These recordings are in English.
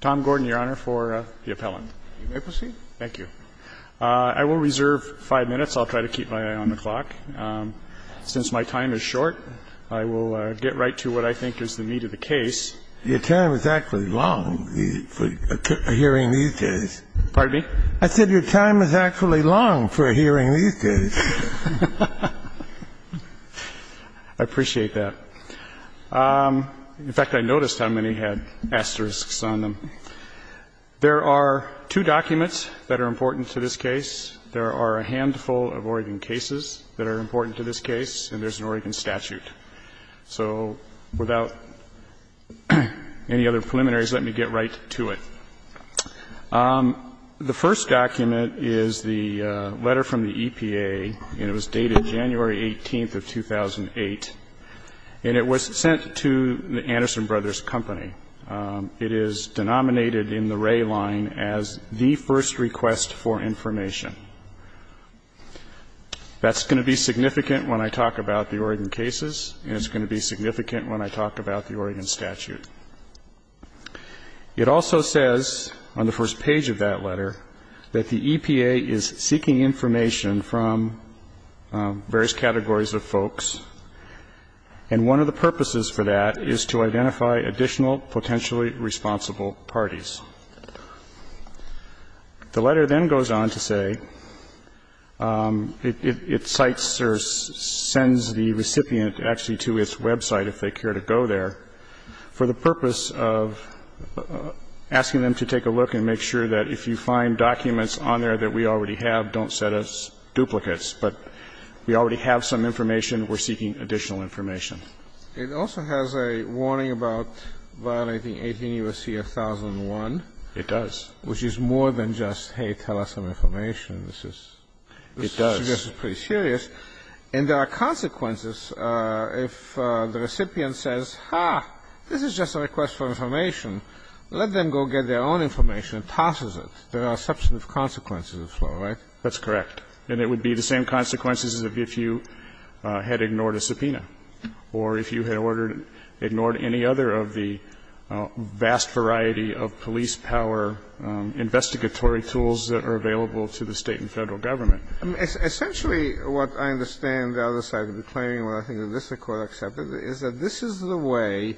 Tom Gordon, Your Honor, for the appellant. You may proceed. Thank you. I will reserve five minutes. I'll try to keep my eye on the clock. Since my time is short, I will get right to what I think is the meat of the case. Your time is actually long for hearing these cases. Pardon me? I said your time is actually long for hearing these cases. I appreciate that. In fact, I noticed how many had asterisks on them. There are two documents that are important to this case. There are a handful of Oregon cases that are important to this case, and there's an Oregon statute. So without any other preliminaries, let me get right to it. The first document is the letter from the EPA, and it was dated January 18th of 2008. And it was sent to the Anderson Brothers Company. It is denominated in the Wray line as the first request for information. That's going to be significant when I talk about the Oregon cases, and it's going to be significant when I talk about the Oregon statute. It also says on the first page of that letter that the EPA is seeking information from various categories of folks, and one of the purposes for that is to identify additional potentially responsible parties. The letter then goes on to say it cites or sends the recipient actually to its website, if they care to go there, for the purpose of asking them to take a look and make sure that if you find documents on there that we already have, don't set us duplicates, but we already have some information. We're seeking additional information. It also has a warning about violating 18 U.S.C. 1001. It does. Which is more than just, hey, tell us some information. It does. This is pretty serious. And there are consequences if the recipient says, ha, this is just a request for information. Let them go get their own information and tosses it. There are substantive consequences as well, right? That's correct. And it would be the same consequences as if you had ignored a subpoena or if you had ordered or ignored any other of the vast variety of police power investigatory tools that are available to the State and Federal Government. Essentially, what I understand the other side of the claim, and I think that this Court accepted, is that this is the way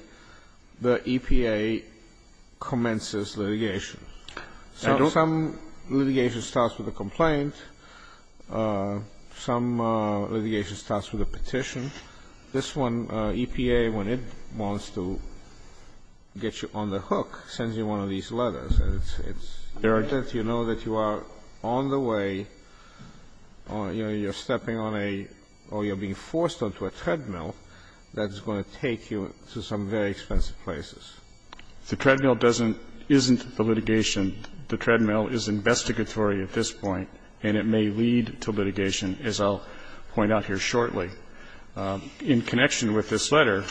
the EPA commences litigation. Some litigation starts with a complaint. Some litigation starts with a petition. This one, EPA, when it wants to get you on the hook, sends you one of these letters. It's that you know that you are on the way, you're stepping on a or you're being forced onto a treadmill that's going to take you to some very expensive places. The treadmill doesn't – isn't the litigation. The treadmill is investigatory at this point, and it may lead to litigation, as I'll point out here shortly. In connection with this letter,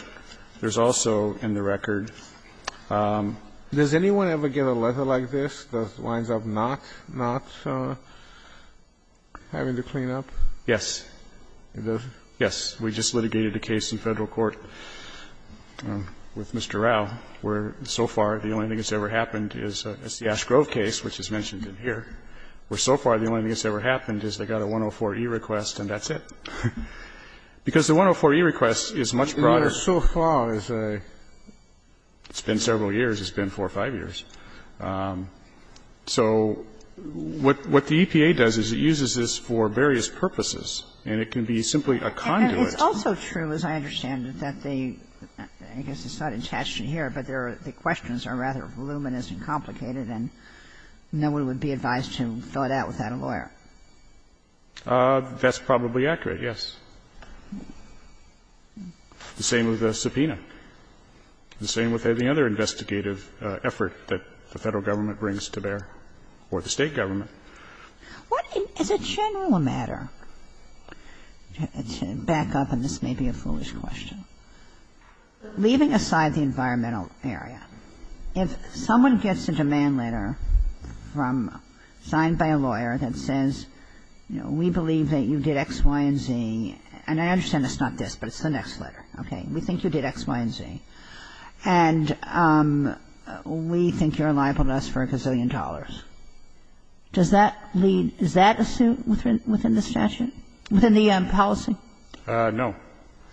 there's also in the record – Does anyone ever get a letter like this that winds up not having to clean up? Yes. Yes. We just litigated a case in Federal court with Mr. Rao. Where, so far, the only thing that's ever happened is the Ashgrove case, which is mentioned in here. Where, so far, the only thing that's ever happened is they got a 104-E request and that's it. Because the 104-E request is much broader. So far, it's a – it's been several years. It's been four or five years. So what the EPA does is it uses this for various purposes, and it can be simply a conduit. It's also true, as I understand it, that the – I guess it's not attached in here, but there are – the questions are rather voluminous and complicated, and no one would be advised to fill it out without a lawyer. That's probably accurate, yes. The same with the subpoena. The same with any other investigative effort that the Federal government brings to bear, or the State government. What is a general matter? Back up, and this may be a foolish question. Leaving aside the environmental area, if someone gets a demand letter from – signed by a lawyer that says, you know, we believe that you did X, Y, and Z – and I understand it's not this, but it's the next letter, okay? We think you did X, Y, and Z, and we think you're liable to us for a gazillion dollars. Does that lead – is that a suit within the statute? Within the policy? No.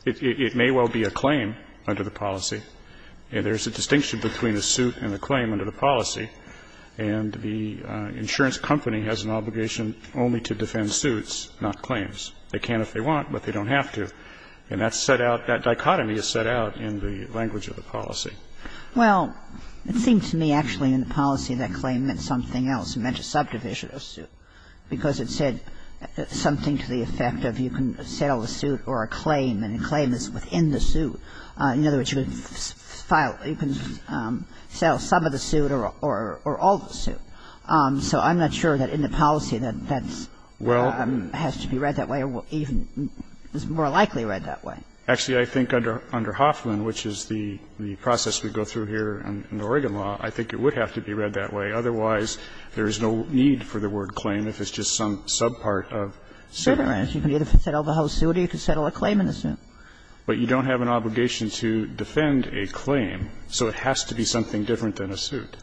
It may well be a claim under the policy. And there's a distinction between a suit and a claim under the policy. And the insurance company has an obligation only to defend suits, not claims. They can if they want, but they don't have to. And that's set out – that dichotomy is set out in the language of the policy. Well, it seems to me actually in the policy that claim meant something else. It meant a subdivision of suit because it said something to the effect of you can settle a suit or a claim, and a claim is within the suit. In other words, you can file – you can settle some of the suit or all the suit. So I'm not sure that in the policy that that's – has to be read that way or even is more likely read that way. Actually, I think under – under Hoffman, which is the process we go through here in the Oregon law, I think it would have to be read that way. Otherwise, there is no need for the word claim if it's just some subpart of suit. You can either settle the whole suit or you can settle a claim in the suit. But you don't have an obligation to defend a claim, so it has to be something different than a suit.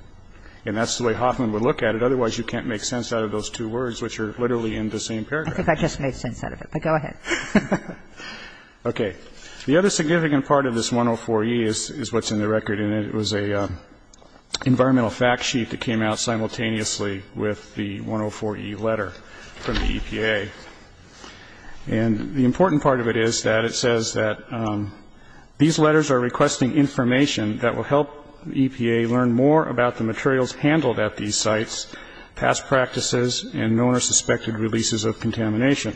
And that's the way Hoffman would look at it. Otherwise, you can't make sense out of those two words, which are literally in the same paragraph. I think I just made sense out of it, but go ahead. Okay. The other significant part of this 104E is what's in the record in it. It was an environmental fact sheet that came out simultaneously with the 104E letter from the EPA. And the important part of it is that it says that these letters are requesting information that will help EPA learn more about the materials handled at these sites, past practices, and known or suspected releases of contamination.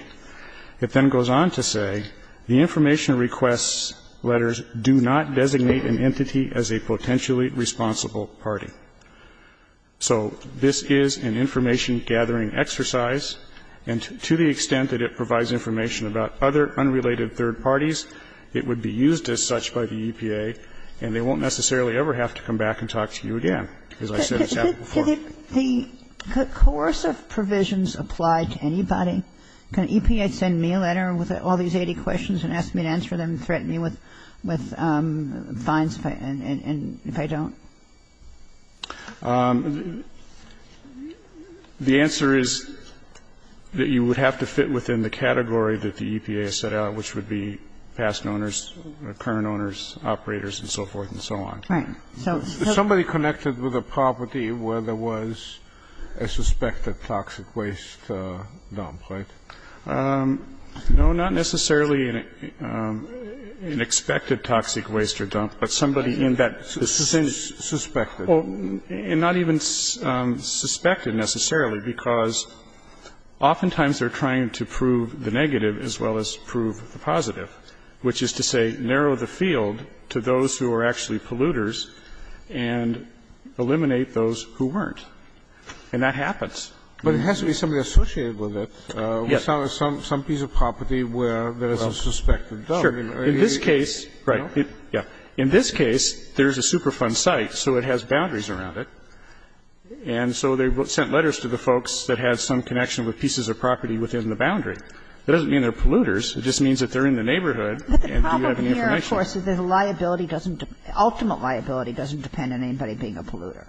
It then goes on to say, The information requests letters do not designate an entity as a potentially responsible party. So this is an information-gathering exercise, and to the extent that it provides information about other unrelated third parties, it would be used as such by the EPA, and they won't necessarily ever have to come back and talk to you again, as I said in Chapter 4. The coercive provisions apply to anybody? Can EPA send me a letter with all these 80 questions and ask me to answer them and threaten me with fines if I don't? The answer is that you would have to fit within the category that the EPA has set out, which would be past owners, current owners, operators, and so forth and so on. Right. Somebody connected with a property where there was a suspected toxic waste dump, right? No, not necessarily an expected toxic waste dump, but somebody in that suspected. Not even suspected necessarily, because oftentimes they're trying to prove the negative as well as prove the positive, which is to say narrow the field to those who are actually polluters and eliminate those who weren't. And that happens. But it has to be somebody associated with it. Yes. Some piece of property where there's a suspected dump. Sure. In this case, right, yeah. In this case, there's a Superfund site, so it has boundaries around it. And so they sent letters to the folks that had some connection with pieces of property within the boundary. That doesn't mean they're polluters. It just means that they're in the neighborhood and they have information. But the point here, of course, is that liability doesn't – ultimate liability doesn't depend on anybody being a polluter.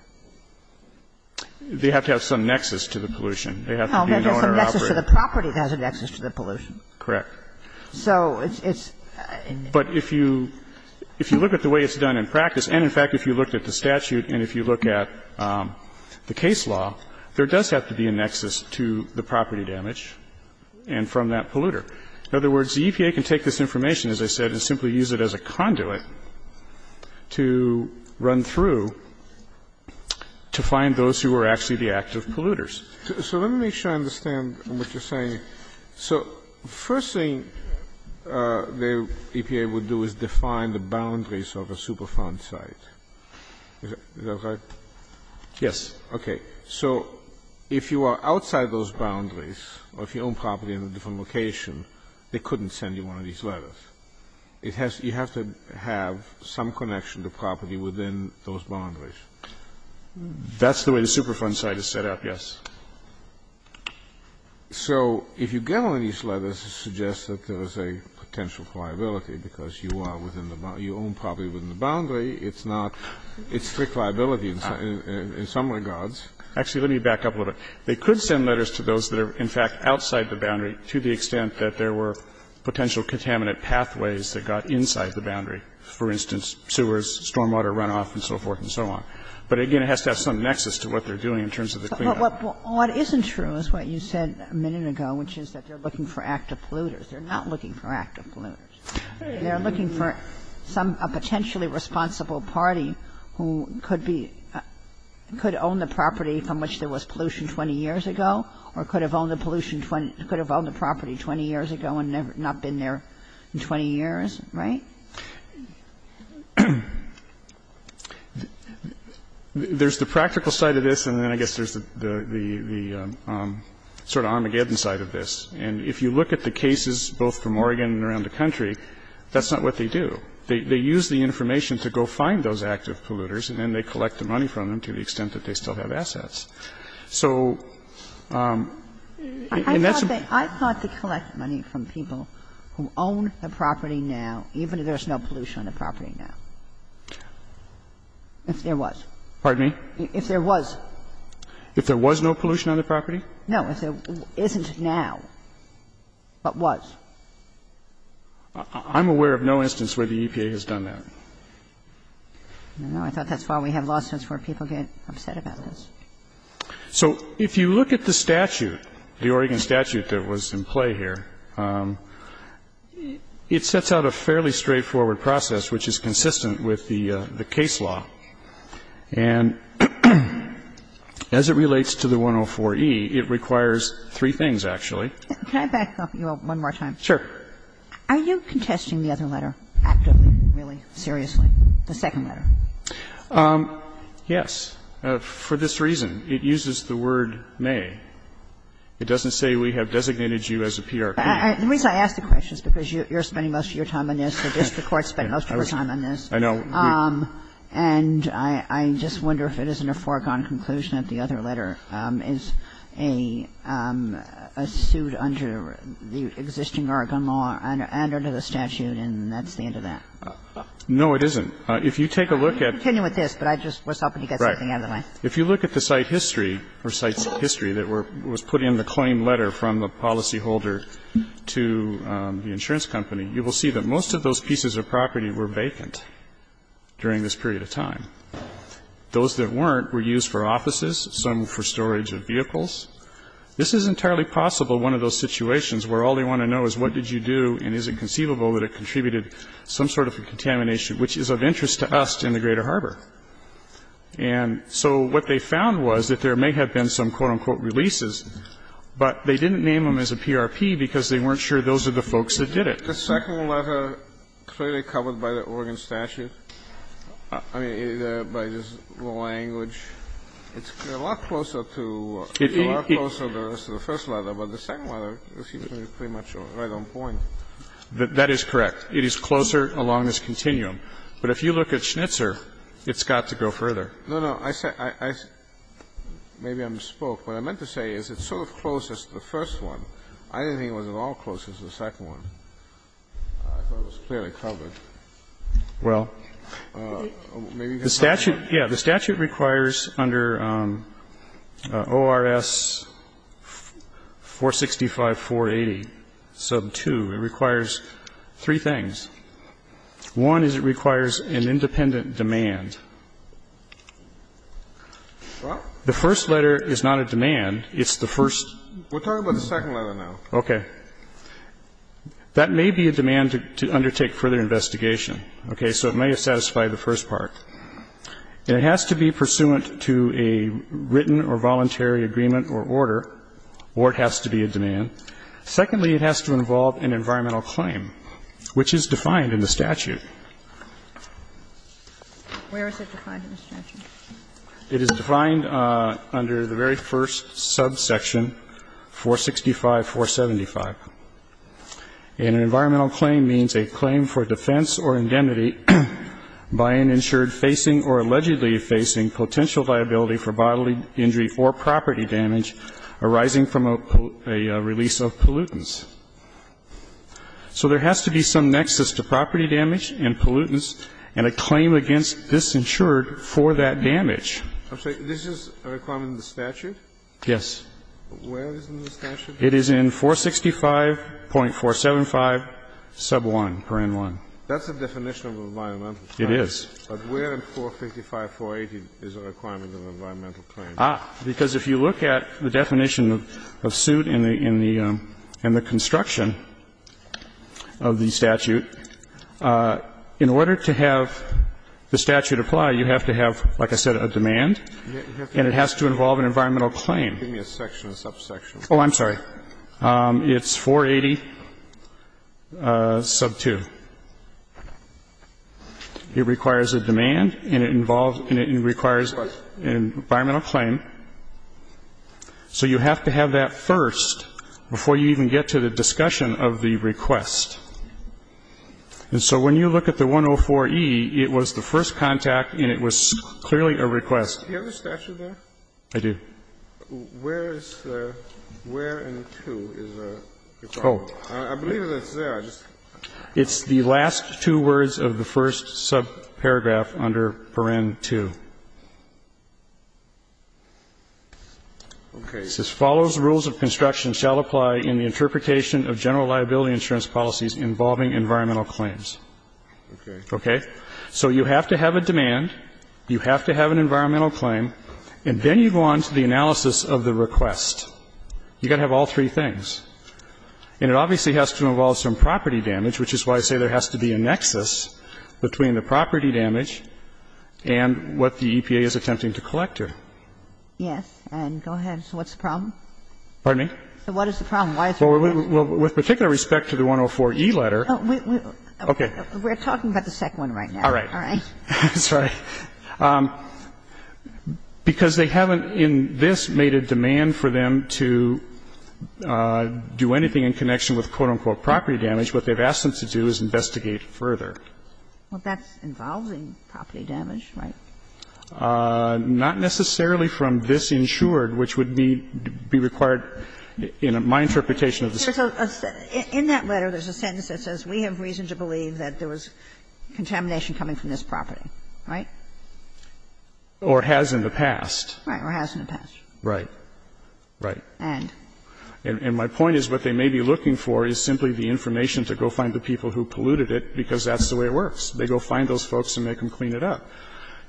They have to have some nexus to the pollution. They have to be an owner-operator. No, there's a nexus to the property that has a nexus to the pollution. Correct. So it's – But if you look at the way it's done in practice, and in fact if you looked at the statute and if you look at the case law, there does have to be a nexus to the property damage and from that polluter. In other words, the EPA can take this information, as I said, and simply use it as a conduit to run through to find those who are actually the active polluters. So let me make sure I understand what you're saying. So first thing the EPA would do is define the boundaries of a Superfund site. Is that right? Yes. Okay. So if you are outside those boundaries or if you own property in a different location, they couldn't send you one of these letters. It has – you have to have some connection to property within those boundaries. That's the way the Superfund site is set up, yes. So if you get one of these letters, it suggests that there is a potential for liability because you are within the – you own property within the boundary, it's not – it's letters because you own property within the boundary. So in some regards – actually, let me back up a little bit. They could send letters to those that are, in fact, outside the boundary to the extent that there were potential contaminant pathways that got inside the boundary, for instance, sewers, stormwater runoff and so forth and so on. But again, it has to have some nexus to what they are doing in terms of the cleanup. But what isn't true is what you said a minute ago, which is that they are looking for active polluters. They are not looking for active polluters. They are looking for some – a potentially responsible party who could be – could own the property from which there was pollution 20 years ago or could have owned the pollution – could have owned the property 20 years ago and never – not been there in 20 years, right? There's the practical side of this, and then I guess there's the sort of Armageddon side of this. And if you look at the cases both from Oregon and around the country, that's not what they do. They use the information to go find those active polluters, and then they collect the money from them to the extent that they still have assets. So that's a bit of a problem. If you look at the statute, the Oregon statute that was in play here, it sets out that there is no pollution on the property now, even if there's no pollution on the property now, if there was. Pardon me? If there was. If there was no pollution on the property? No. If there isn't now, but was. I'm aware of no instance where the EPA has done that. I thought that's why we have lawsuits where people get upset about this. So if you look at the statute, the Oregon statute that was in play here, it sets out a fairly straightforward process which is consistent with the case law. And as it relates to the 104e, it requires three things, actually. Can I back up one more time? Sure. Are you contesting the other letter actively, really, seriously, the second letter? Yes. For this reason. It uses the word May. It doesn't say we have designated you as a PR company. The reason I ask the question is because you're spending most of your time on this. I guess the Court spent most of your time on this. I know. And I just wonder if it isn't a foregone conclusion that the other letter is a suit under the existing Oregon law and under the statute, and that's the end of that. No, it isn't. If you take a look at the site history, or site history that was put in the claim letter from the policyholder to the insurance company, you will see that most of those pieces of property were vacant during this period of time. Those that weren't were used for offices, some for storage of vehicles. This is entirely possible, one of those situations, where all they want to know is what did you do, and is it conceivable that it contributed some sort of a contamination, which is of interest to us in the greater harbor. And so what they found was that there may have been some, quote, unquote, releases, but they didn't name them as a PRP because they weren't sure those are the folks that did it. The second letter clearly covered by the Oregon statute, I mean, by the language. It's a lot closer to Oregon. It's a lot closer than the rest of the first letter, but the second letter is pretty much right on point. That is correct. It is closer along this continuum. But if you look at Schnitzer, it's got to go further. No, no. Maybe I'm spoke. What I meant to say is it's sort of closest to the first one. I didn't think it was at all closest to the second one. I thought it was clearly covered. Well, the statute, yeah, the statute requires under ORS 465, 480, sub 2, it requires three things. One is it requires an independent demand. The first letter is not a demand. It's the first. We're talking about the second letter now. Okay. That may be a demand to undertake further investigation. Okay. So it may have satisfied the first part. It has to be pursuant to a written or voluntary agreement or order, or it has to be a demand. Secondly, it has to involve an environmental claim, which is defined in the statute. Where is it defined in the statute? It is defined under the very first subsection, 465, 475. An environmental claim means a claim for defense or indemnity by an insured facing or allegedly facing potential liability for bodily injury or property damage arising from a release of pollutants. So there has to be some nexus to property damage and pollutants and a claim against this insured for that damage. I'm sorry. This is a requirement in the statute? Yes. Where is it in the statute? It is in 465.475, sub 1, parent 1. That's a definition of an environmental claim. It is. But where in 455, 480 is a requirement of an environmental claim? Ah, because if you look at the definition of suit in the construction of the statute, in order to have the statute apply, you have to have, like I said, a demand. And it has to involve an environmental claim. Give me a section, a subsection. Oh, I'm sorry. It's 480, sub 2. It requires a demand and it involves and it requires an environmental claim. So you have to have that first before you even get to the discussion of the request. And so when you look at the 104e, it was the first contact and it was clearly a request. Do you have the statute there? I do. Where is the where in 2 is a requirement? I believe it's there. It's the last two words of the first subparagraph under parent 2. Okay. It says, Okay. So you have to have a demand, you have to have an environmental claim, and then you go on to the analysis of the request. You've got to have all three things. And it obviously has to involve some property damage, which is why I say there has to be a nexus between the property damage and what the EPA is attempting to collect here. Yes. And go ahead. So what's the problem? Pardon me? So what is the problem? Why is it? Well, with particular respect to the 104e letter. Okay. We're talking about the second one right now. All right. All right. That's right. Because they haven't in this made a demand for them to do anything in connection with, quote, unquote, property damage. What they've asked them to do is investigate further. Well, that's involving property damage, right? Not necessarily from this insured, which would be required in my interpretation of the statute. In that letter there's a sentence that says we have reason to believe that there was contamination coming from this property, right? Or has in the past. Right. Or has in the past. Right. Right. And? And my point is what they may be looking for is simply the information to go find the people who polluted it, because that's the way it works. They go find those folks and make them clean it up.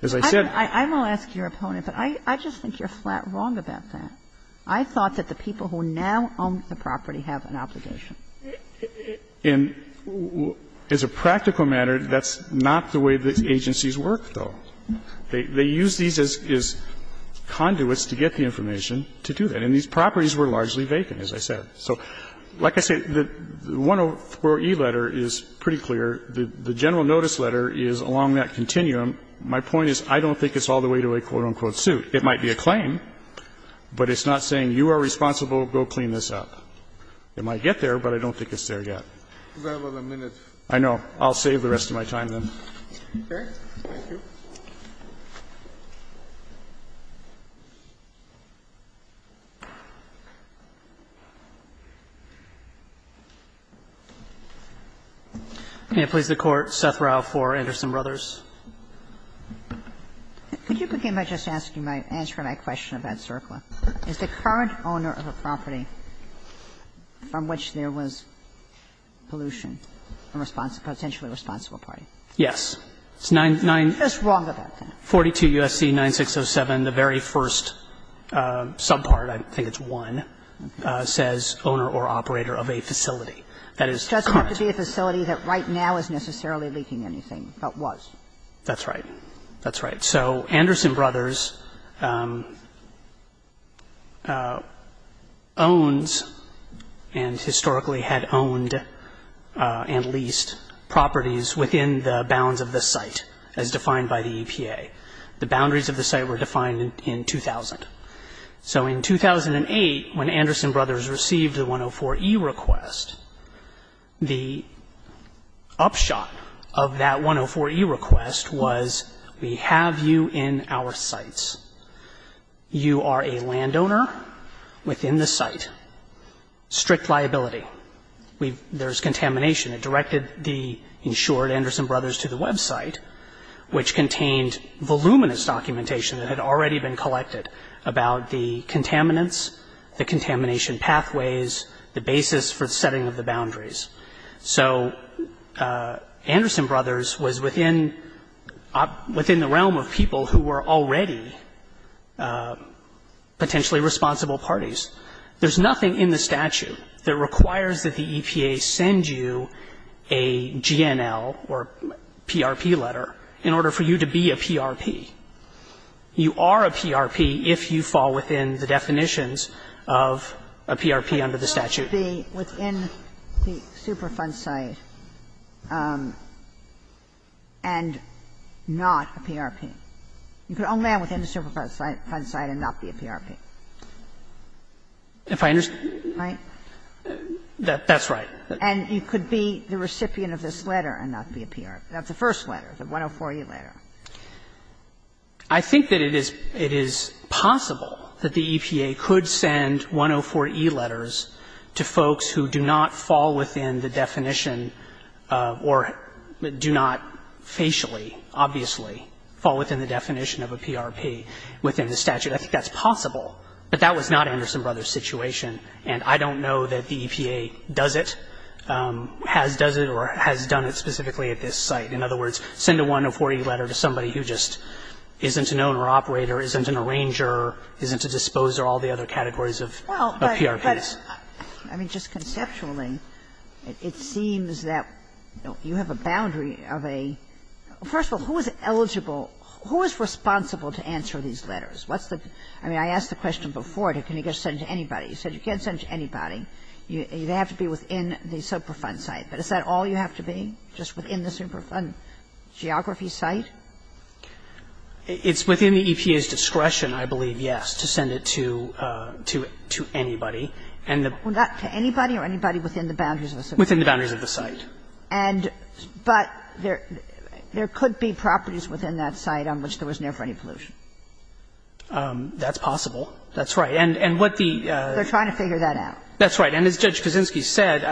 As I said. I'm going to ask your opponent, but I just think you're flat wrong about that. I thought that the people who now own the property have an obligation. And as a practical matter, that's not the way the agencies work, though. They use these as conduits to get the information to do that. And these properties were largely vacant, as I said. So like I said, the 104E letter is pretty clear. The general notice letter is along that continuum. My point is I don't think it's all the way to a quote, unquote, suit. It might be a claim, but it's not saying you are responsible, go clean this up. It might get there, but I don't think it's there yet. I know. I'll save the rest of my time, then. Okay. Thank you. May it please the Court, Seth Rau for Anderson Brothers. Could you begin by just asking my question about CERCLA? Is the current owner of a property from which there was pollution a potentially responsible party? Yes. It's 942 U.S.C. 9607, the very first subpart, I think it's 1, says owner or operator of a facility. That is correct. It doesn't have to be a facility that right now is necessarily leaking anything, but was. That's right. That's right. So Anderson Brothers owns and historically had owned and leased properties within the bounds of the site, as defined by the EPA. The boundaries of the site were defined in 2000. So in 2008, when Anderson Brothers received the 104e request, the upshot of that 104e request was we have you in our sites. You are a landowner within the site. Strict liability. There's contamination. It directed the, in short, Anderson Brothers to the website, which contained voluminous documentation that had already been collected about the contaminants, the contamination pathways, the basis for the setting of the boundaries. So Anderson Brothers was within the realm of people who were already potentially responsible parties. There's nothing in the statute that requires that the EPA send you a GNL or PRP letter in order for you to be a PRP. You are a PRP if you fall within the definitions of a PRP under the statute. But you can't be within the Superfund site and not a PRP. You can only be within the Superfund site and not be a PRP. If I understand. Right? That's right. And you could be the recipient of this letter and not be a PRP. That's the first letter, the 104e letter. I think that it is possible that the EPA could send 104e letters to folks who do not fall within the definition or do not facially, obviously, fall within the definition of a PRP within the statute. I think that's possible. But that was not Anderson Brothers' situation. And I don't know that the EPA does it, has done it or has done it specifically at this site. In other words, send a 104e letter to somebody who just isn't an owner-operator, isn't an arranger, isn't a disposer, all the other categories of PRPs. Well, but I mean, just conceptually, it seems that you have a boundary of a – first of all, who is eligible, who is responsible to answer these letters? What's the – I mean, I asked the question before, can you just send it to anybody? You said you can't send it to anybody. They have to be within the Superfund site. But is that all you have to be, just within the Superfund geography site? It's within the EPA's discretion, I believe, yes, to send it to – to anybody. And the – Well, not to anybody or anybody within the boundaries of the Superfund. Within the boundaries of the site. And – but there could be properties within that site on which there was never any pollution. That's possible. That's right. And what the – They're trying to figure that out. That's right. And as Judge Kaczynski said,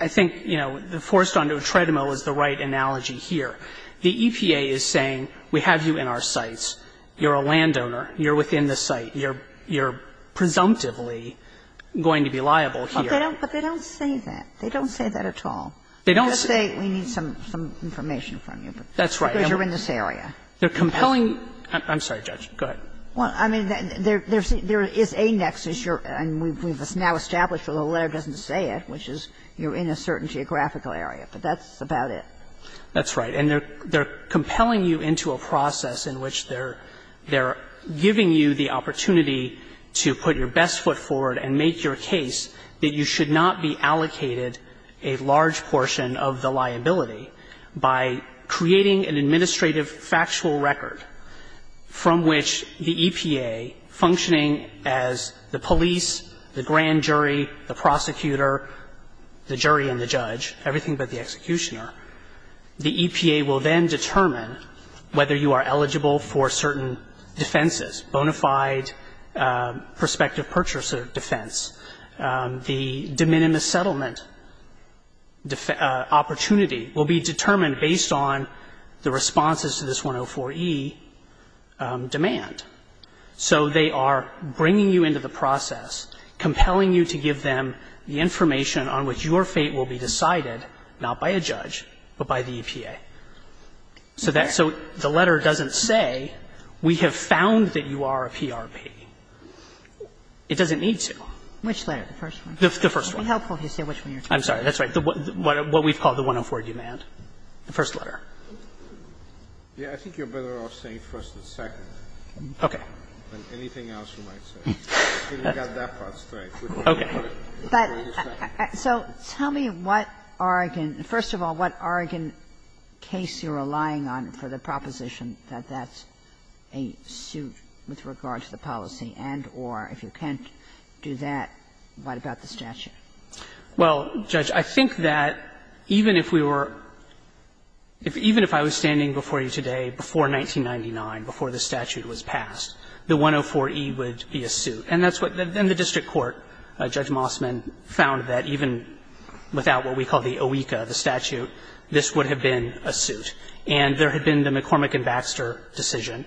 I think, you know, the forced-onto-a-treadmill is the right analogy here. The EPA is saying, we have you in our sites, you're a landowner, you're within the site, you're – you're presumptively going to be liable here. But they don't – but they don't say that. They don't say that at all. They don't say we need some – some information from you. That's right. Because you're in this area. They're compelling – I'm sorry, Judge. Go ahead. Well, I mean, there's – there is a nexus. You're – and we've now established where the letter doesn't say it, which is you're in a certain geographical area. But that's about it. That's right. And they're – they're compelling you into a process in which they're – they're giving you the opportunity to put your best foot forward and make your case that you should not be allocated a large portion of the liability by creating an administrative factual record from which the EPA, functioning as the police, the grand jury, the prosecutor, the jury and the judge, everything but the executioner, the EPA will then determine whether you are eligible for certain defenses, bona fide prospective purchaser defense. The de minimis settlement opportunity will be determined based on the responses to the 104E demand. So they are bringing you into the process, compelling you to give them the information on which your fate will be decided, not by a judge, but by the EPA. So that – so the letter doesn't say we have found that you are a PRP. It doesn't need to. Which letter? The first one? The first one. It would be helpful if you said which one you're talking about. I'm sorry. That's right. What we call the 104 demand, the first letter. Yes, I think you're better off saying first and second. Okay. Anything else you might say. Let's get that part straight. Okay. So tell me what Oregon – first of all, what Oregon case you're relying on for the proposition that that's a suit with regard to the policy and or if you can't do that, what about the statute? Well, Judge, I think that even if we were – even if I was standing before you today before 1999, before the statute was passed, the 104E would be a suit. And that's what – then the district court, Judge Mossman, found that even without what we call the OECA, the statute, this would have been a suit. And there had been the McCormick and Baxter decision,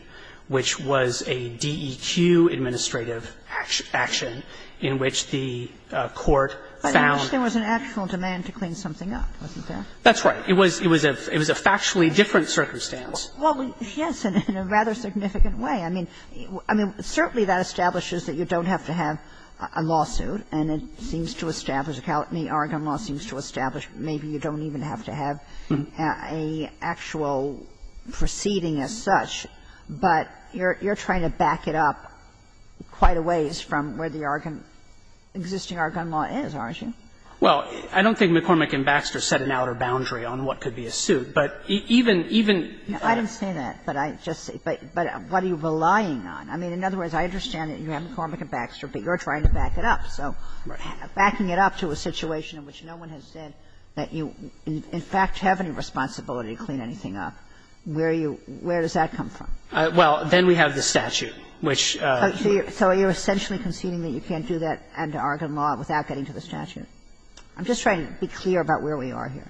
which was a DEQ administrative action in which the court found – But in which there was an actual demand to clean something up, wasn't there? That's right. It was a factually different circumstance. Well, yes, in a rather significant way. I mean, certainly that establishes that you don't have to have a lawsuit, and it seems to establish – Oregon law seems to establish maybe you don't even have to have an actual proceeding as such, but you're trying to back it up quite a ways from where the Oregon – existing Oregon law is, aren't you? Well, I don't think McCormick and Baxter set an outer boundary on what could be a suit. But even – even – I didn't say that, but I just – but what are you relying on? I mean, in other words, I understand that you have McCormick and Baxter, but you're trying to back it up. So backing it up to a situation in which no one has said that you in fact have any responsibility to clean anything up, where are you – where does that come from? Well, then we have the statute, which – So you're essentially conceding that you can't do that under Oregon law without getting to the statute? I'm just trying to be clear about where we are here.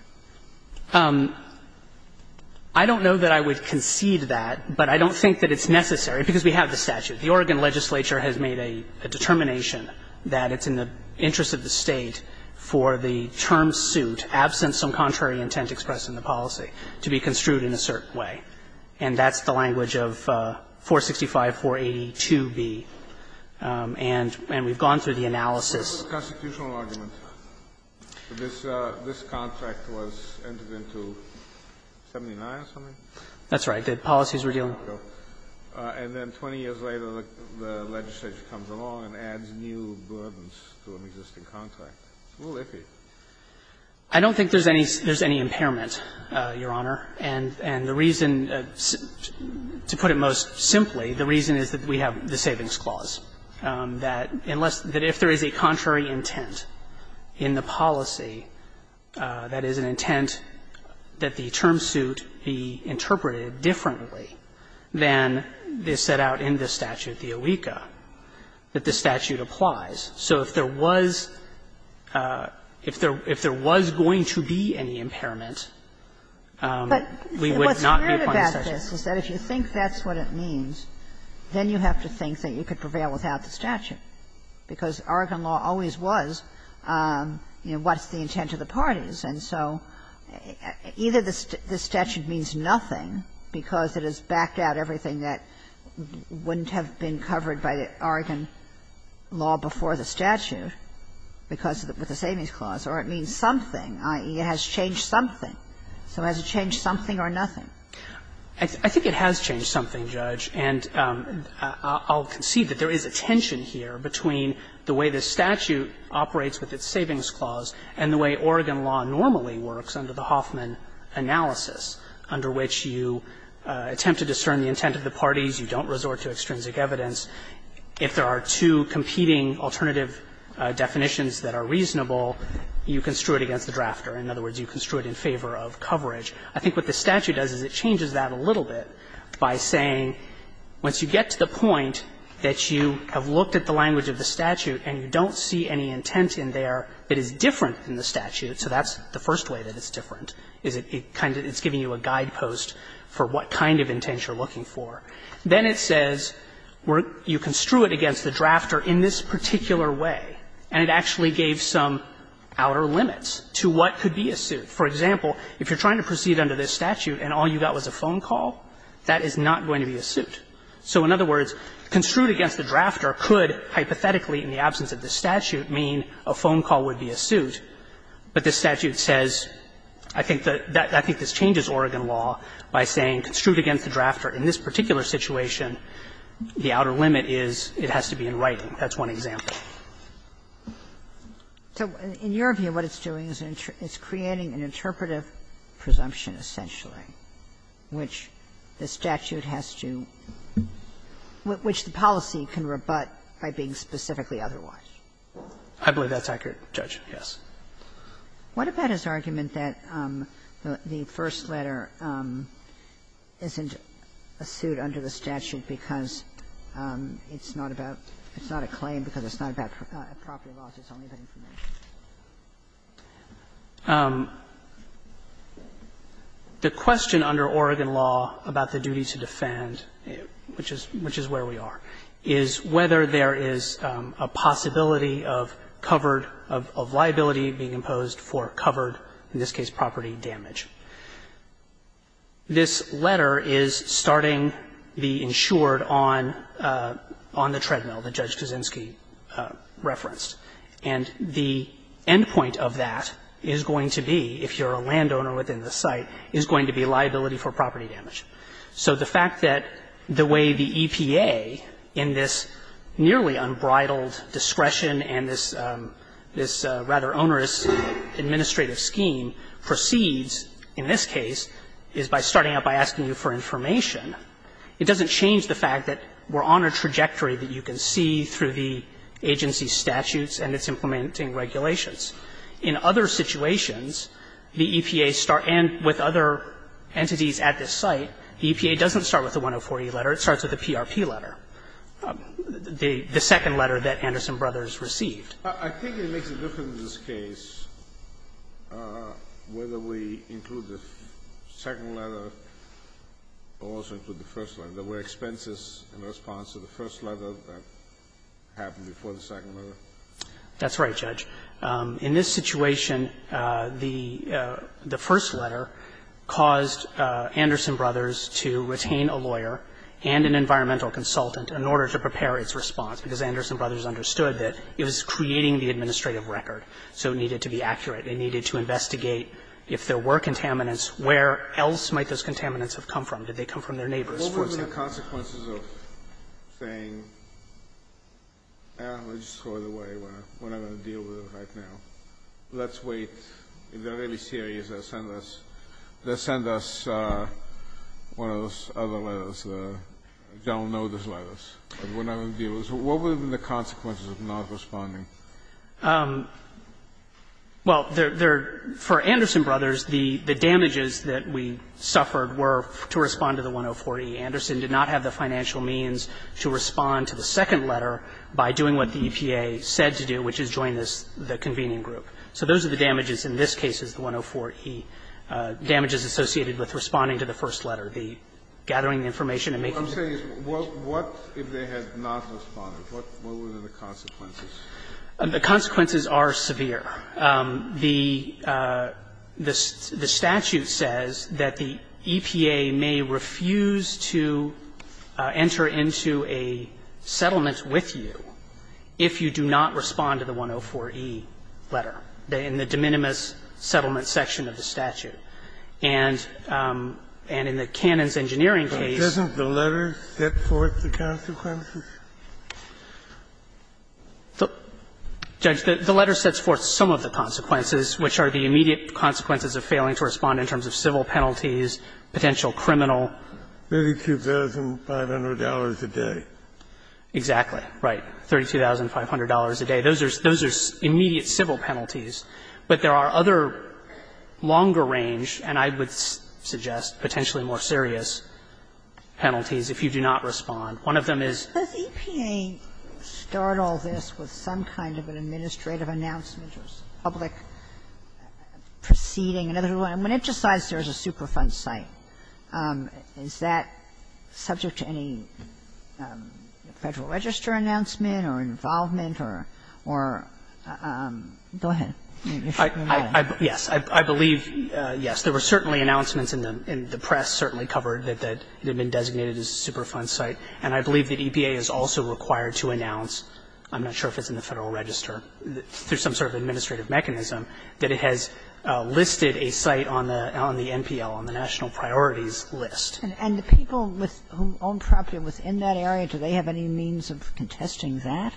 I don't know that I would concede that, but I don't think that it's necessary, because we have the statute. The Oregon legislature has made a determination that it's in the interest of the State for the term suit, absent some contrary intent expressed in the policy, to be construed in a certain way. And that's the language of 465-482-b. And we've gone through the analysis. But what about the constitutional argument? This contract was entered into in 1979 or something? That's right. The policies were dealing with that. And then 20 years later, the legislature comes along and adds new burdens to an existing contract. So what if it is? I don't think there's any impairment, Your Honor. And the reason, to put it most simply, the reason is that we have the Savings Clause, that unless – that if there is a contrary intent in the policy, that is an intent that the term suit be interpreted differently than is set out in the statute, the OECA, that the statute applies. So if there was – if there was going to be any impairment, we would not be applying But what's weird about this is that if you think that's what it means, then you have to think that you could prevail without the statute, because Oregon law always was, you know, what's the intent of the parties. And so either the statute means nothing because it has backed out everything that wouldn't have been covered by Oregon law before the statute because of the – with the Savings Clause, or it means something, i.e., it has changed something. So has it changed something or nothing? I think it has changed something, Judge. And I'll concede that there is a tension here between the way the statute operates with its Savings Clause and the way Oregon law normally works under the Hoffman analysis, under which you attempt to discern the intent of the parties, you don't resort to extrinsic evidence. If there are two competing alternative definitions that are reasonable, you construe it against the drafter. In other words, you construe it in favor of coverage. I think what the statute does is it changes that a little bit by saying once you get to the point that you have looked at the language of the statute and you don't see any intent in there that is different than the statute, so that's the first way that it's different, is it kind of – it's giving you a guidepost for what kind of intent you're looking for. Then it says you construe it against the drafter in this particular way, and it actually gave some outer limits to what could be a suit. For example, if you're trying to proceed under this statute and all you got was a phone call, that is not going to be a suit. So in other words, construed against the drafter could hypothetically, in the absence of the statute, mean a phone call would be a suit. But this statute says, I think that – I think this changes Oregon law by saying construe it against the drafter in this particular situation. The outer limit is it has to be in writing. That's one example. So in your view, what it's doing is it's creating an interpretive presumption, essentially, which the statute has to – which the policy can rebut by being specifically otherwise. I believe that's accurate, Judge, yes. What about his argument that the first letter isn't a suit under the statute because it's not about – it's not a claim because it's not about a property loss, it's only about information? The question under Oregon law about the duty to defend, which is where we are, is whether there is a possibility of covered – of liability being imposed for covered, in this case, property damage. This letter is starting the insured on the treadmill that Judge Kaczynski referenced. And the end point of that is going to be, if you're a landowner within the site, is going to be liability for property damage. So the fact that the way the EPA, in this nearly unbridled discretion and this rather onerous administrative scheme, proceeds in this case is by starting out by asking you for information. It doesn't change the fact that we're on a trajectory that you can see through the agency statutes and its implementing regulations. In other situations, the EPA start – and with other entities at this site, the EPA doesn't start with the 104e letter. It starts with the PRP letter, the second letter that Anderson Brothers received. I think it makes a difference in this case whether we include the second letter or also include the first letter. There were expenses in response to the first letter that happened before the second letter. That's right, Judge. In this situation, the first letter caused Anderson Brothers to retain a lawyer and an environmental consultant in order to prepare its response, because Anderson Brothers understood that it was creating the administrative record, so it needed to be accurate. It needed to investigate if there were contaminants, where else might those contaminants have come from. Did they come from their neighbors, for example? The consequences of saying, I don't know, let's just throw it away, we're not going to deal with it right now, let's wait, if they're really serious, let's send us – let's send us one of those other letters, the general notice letters, but we're not going to deal with it. What would have been the consequences of not responding? Well, there – for Anderson Brothers, the damages that we suffered were to respond to the 104e. Anderson did not have the financial means to respond to the second letter by doing what the EPA said to do, which is join this – the convening group. So those are the damages in this case, is the 104e, damages associated with responding to the first letter, the gathering the information and making the – Well, I'm saying, what if they had not responded? What would have been the consequences? The consequences are severe. The statute says that the EPA may refuse to enter into a settlement with you if you do not respond to the 104e letter in the de minimis settlement section of the statute. And in the Canons Engineering case – But doesn't the letter set forth the consequences? Judge, the letter sets forth some of the consequences, which are the immediate consequences of failing to respond in terms of civil penalties, potential criminal $32,500 a day. Exactly, right, $32,500 a day. Those are – those are immediate civil penalties. But there are other longer range, and I would suggest potentially more serious penalties if you do not respond. One of them is Does EPA start all this with some kind of an administrative announcement or public proceeding? In other words, when it decides there's a Superfund site, is that subject to any Federal Register announcement or involvement or – go ahead. Yes, I believe, yes, there were certainly announcements in the press, certainly covered that it had been designated as a Superfund site. And I believe that EPA is also required to announce – I'm not sure if it's in the Federal Register, through some sort of administrative mechanism – that it has listed a site on the NPL, on the National Priorities List. And the people with – who own property within that area, do they have any means of contesting that?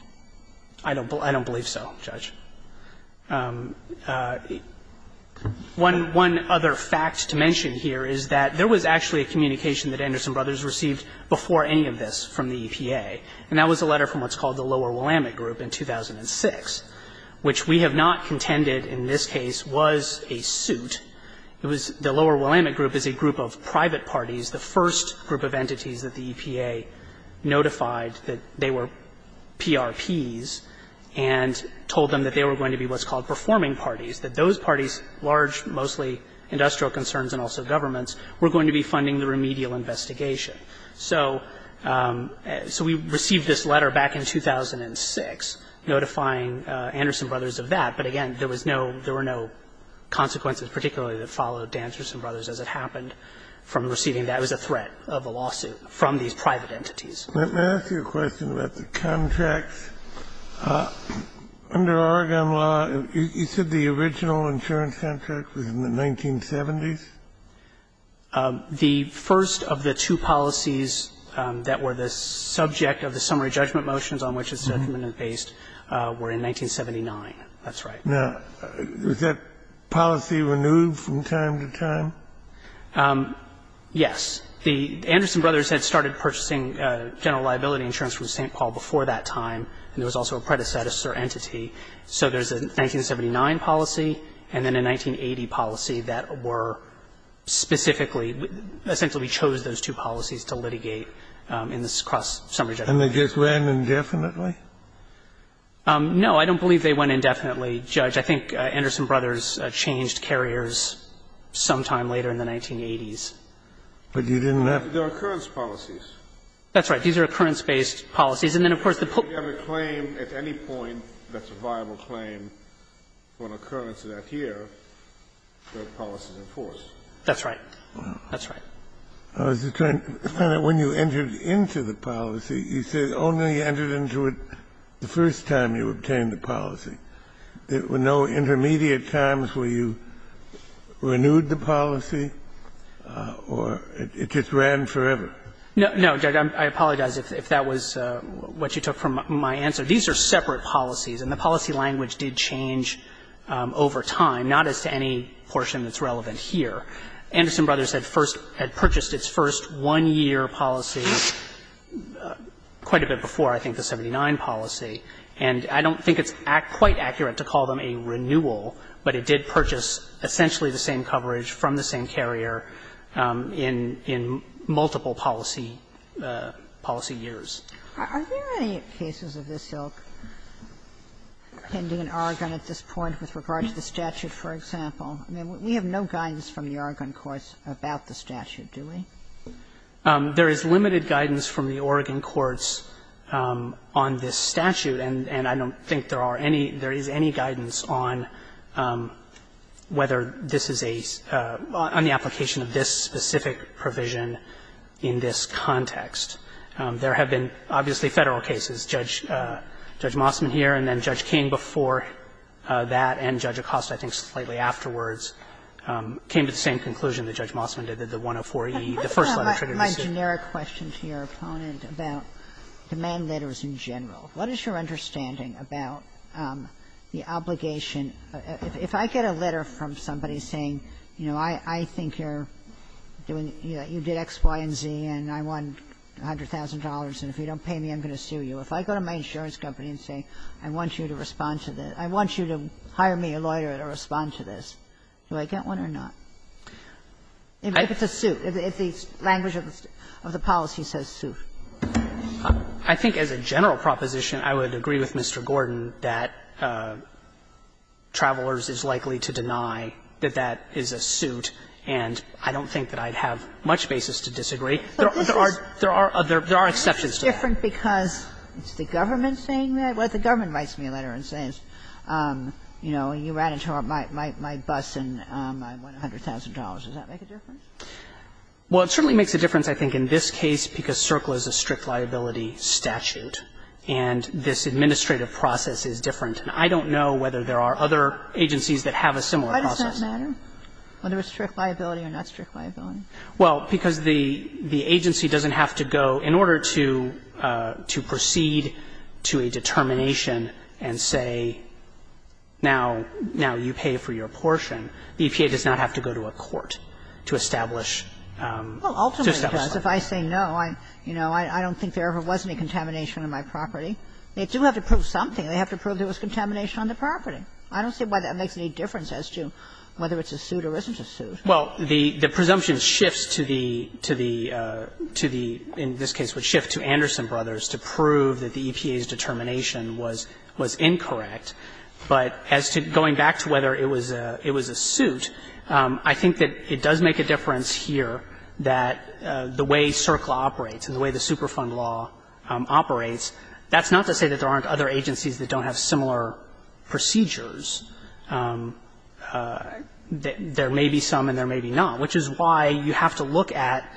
I don't believe so, Judge. And that's a letter from an investigation that Anderson Brothers received before any of this from the EPA. And that was a letter from what's called the Lower Willamette Group in 2006, which we have not contended in this case was a suit. It was – the Lower Willamette Group is a group of private parties, the first group of entities that the EPA notified that they were PRPs and told them that they were going to be what's called performing parties, that those parties, large, mostly industrial concerns and also governments, were going to be funding the remedial investigation. So we received this letter back in 2006 notifying Anderson Brothers of that. But again, there was no – there were no consequences particularly that followed Danterson Brothers as it happened from receiving that. It was a threat of a lawsuit from these private entities. Kennedy. Let me ask you a question about the contracts. Under Oregon law, you said the original insurance contract was in the 1970s? The first of the two policies that were the subject of the summary judgment motions on which this judgment is based were in 1979. That's right. Now, is that policy renewed from time to time? Yes. The Anderson Brothers had started purchasing general liability insurance from St. Louis at that time, and there was also a predecessor entity. So there's a 1979 policy and then a 1980 policy that were specifically – essentially we chose those two policies to litigate in this cross-summary judgment. And they just ran indefinitely? No, I don't believe they went indefinitely, Judge. I think Anderson Brothers changed carriers sometime later in the 1980s. But you didn't have to? They're occurrence policies. That's right. These are occurrence-based policies. And then, of course, the point is that if you have a claim at any point that's a viable claim for an occurrence of that year, the policy is enforced. That's right. That's right. I was just trying to find out when you entered into the policy, you said only you entered into it the first time you obtained the policy. There were no intermediate times where you renewed the policy or it just ran forever? No, no, Judge. I apologize if that was what you took from my answer. These are separate policies, and the policy language did change over time, not as to any portion that's relevant here. Anderson Brothers had first – had purchased its first one-year policy quite a bit before, I think, the 1979 policy. And I don't think it's quite accurate to call them a renewal, but it did purchase essentially the same coverage from the same carrier in multiple policy years. Are there any cases of this ilk pending in Oregon at this point with regard to the statute, for example? I mean, we have no guidance from the Oregon courts about the statute, do we? There is limited guidance from the Oregon courts on this statute, and I don't think that there are any – there is any guidance on whether this is a – on the application of this specific provision in this context. There have been, obviously, Federal cases. Judge Mossman here and then Judge King before that and Judge Acosta, I think, slightly afterwards, came to the same conclusion that Judge Mossman did, that the 104e, the first letter triggered the suit. Kagan. I have a generic question to your opponent about demand letters in general. What is your understanding about the obligation – if I get a letter from somebody saying, you know, I think you're doing – you did X, Y, and Z, and I want $100,000, and if you don't pay me, I'm going to sue you, if I go to my insurance company and say I want you to respond to this, I want you to hire me a lawyer to respond to this, do I get one or not? If it's a suit, if the language of the policy says suit. I think as a general proposition, I would agree with Mr. Gordon that Travelers is likely to deny that that is a suit, and I don't think that I'd have much basis to disagree. There are exceptions to that. But this is different because is the government saying that? Well, the government writes me a letter and says, you know, you ran into my bus and I want $100,000. Does that make a difference? Well, it certainly makes a difference, I think, in this case, because CERCLA is a strict liability statute, and this administrative process is different. And I don't know whether there are other agencies that have a similar process. Why does that matter, whether it's strict liability or not strict liability? Well, because the agency doesn't have to go – in order to proceed to a determination and say, now you pay for your portion, the EPA does not have to go to a court to establish – to establish something. Well, ultimately, because if I say no, you know, I don't think there ever was any contamination on my property. They do have to prove something. They have to prove there was contamination on the property. I don't see why that makes any difference as to whether it's a suit or isn't a suit. Well, the presumption shifts to the – to the – in this case would shift to Anderson Brothers to prove that the EPA's determination was – was incorrect. But as to – going back to whether it was a – it was a suit, I think that it does make a difference here that the way CERCLA operates and the way the Superfund law operates, that's not to say that there aren't other agencies that don't have similar procedures. There may be some and there may be not, which is why you have to look at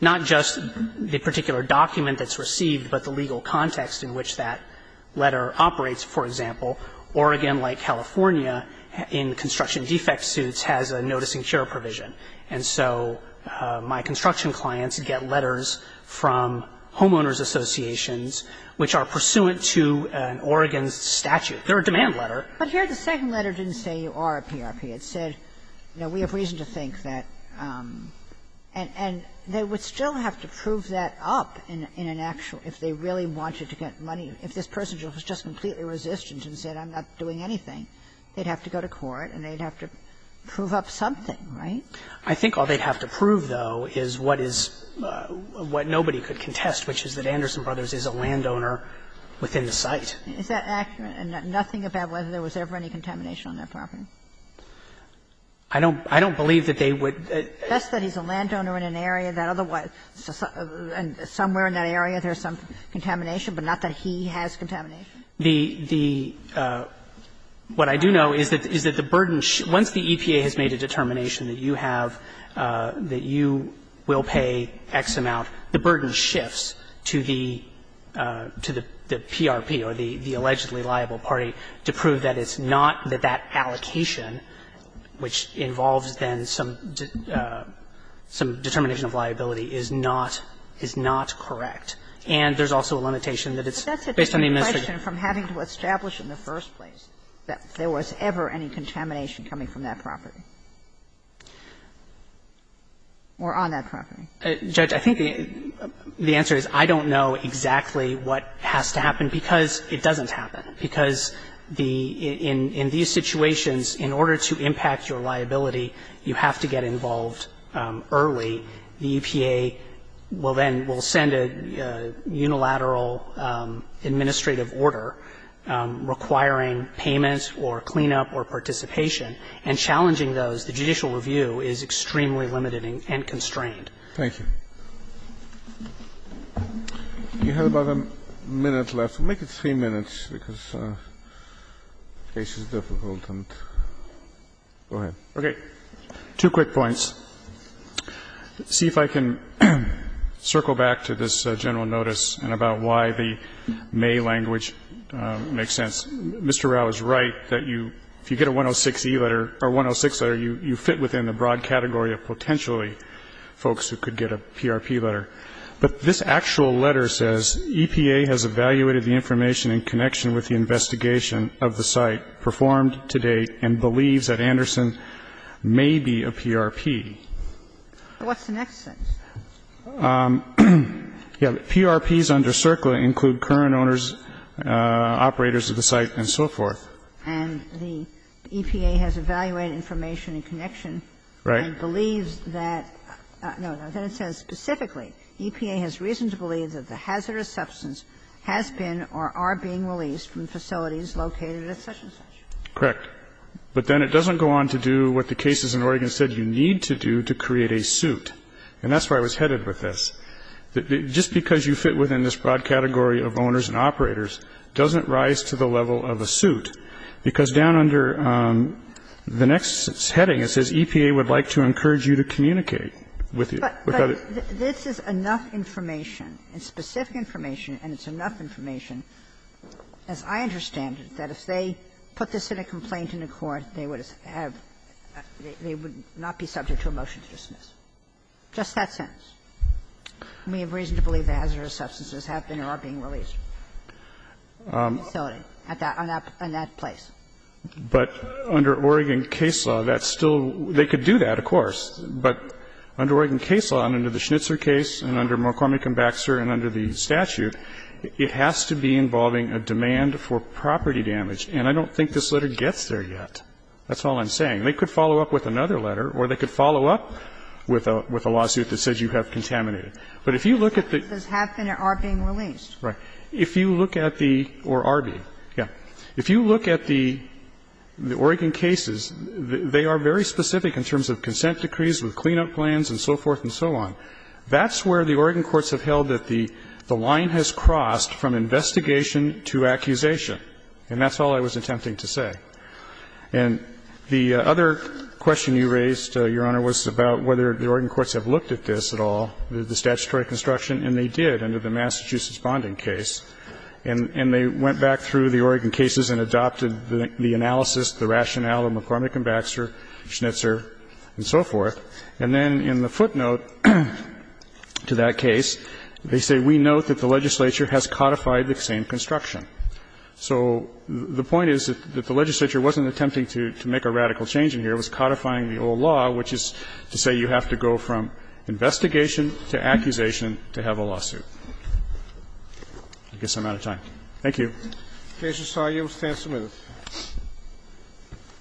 not just the particular document that's received, but the legal context in which that letter operates. For example, Oregon, like California, in construction defect suits has a noticing cure provision. And so my construction clients get letters from homeowners associations which are pursuant to an Oregon statute. They're a demand letter. But here the second letter didn't say you are a PRP. It said, you know, we have reason to think that. And they would still have to prove that up in an actual – if they really wanted to get money, if this person was just completely resistant and said, I'm not doing anything, they'd have to go to court and they'd have to prove up something, right? I think all they'd have to prove, though, is what is – what nobody could contest, which is that Anderson Brothers is a landowner within the site. Is that accurate? Nothing about whether there was ever any contamination on their property? I don't believe that they would – Just that he's a landowner in an area that otherwise – somewhere in that area there's some contamination, but not that he has contamination? The – what I do know is that the burden – once the EPA has made a determination that you have – that you will pay X amount, the burden shifts to the PRP or the And there's also a limitation that it's based on the administration of the property. But that's a different question from having to establish in the first place that there was ever any contamination coming from that property or on that property. Judge, I think the answer is I don't know exactly what has to happen, because it doesn't happen. In order to impact your liability, you have to get involved early. The EPA will then – will send a unilateral administrative order requiring payments or cleanup or participation. And challenging those, the judicial review is extremely limited and constrained. Thank you. You have about a minute left. We'll make it three minutes, because the case is difficult. Go ahead. Okay. Two quick points. See if I can circle back to this general notice and about why the May language makes sense. Mr. Rao is right that you – if you get a 106 letter, you fit within the broad category of potentially folks who could get a PRP letter. But this actual letter says, EPA has evaluated the information in connection with the investigation of the site to date and believes that Anderson may be a PRP. What's the next sentence? PRPs under CERCLA include current owners, operators of the site, and so forth. And the EPA has evaluated information in connection and believes that – no, no. Then it says specifically, EPA has reason to believe that the hazardous substance has been or are being released from facilities located at such-and-such. Correct. But then it doesn't go on to do what the cases in Oregon said you need to do to create a suit. And that's where I was headed with this. Just because you fit within this broad category of owners and operators doesn't rise to the level of a suit, because down under the next heading it says, EPA would like to encourage you to communicate with the other. But this is enough information, and specific information, and it's enough information. As I understand it, that if they put this in a complaint in a court, they would have – they would not be subject to a motion to dismiss. Just that sentence. We have reason to believe that hazardous substances have been or are being released from facilities at that – in that place. But under Oregon case law, that's still – they could do that, of course. But under Oregon case law and under the Schnitzer case and under McCormick and Baxter and under the statute, it has to be involving a demand for property damage. And I don't think this letter gets there yet. That's all I'm saying. They could follow up with another letter or they could follow up with a lawsuit that says you have contaminated. But if you look at the – But substances have been or are being released. Right. If you look at the – or are being. Yeah. If you look at the Oregon cases, they are very specific in terms of consent decrees, with cleanup plans and so forth and so on. That's where the Oregon courts have held that the line has crossed from investigation to accusation. And that's all I was attempting to say. And the other question you raised, Your Honor, was about whether the Oregon courts have looked at this at all, the statutory construction, and they did under the Massachusetts bonding case. And they went back through the Oregon cases and adopted the analysis, the rationale of McCormick and Baxter, Schnitzer and so forth. And then in the footnote to that case, they say, We note that the legislature has codified the same construction. So the point is that the legislature wasn't attempting to make a radical change in here. It was codifying the old law, which is to say you have to go from investigation to accusation to have a lawsuit. I guess I'm out of time. Thank you. Mr. Scalia, you will stand submitted.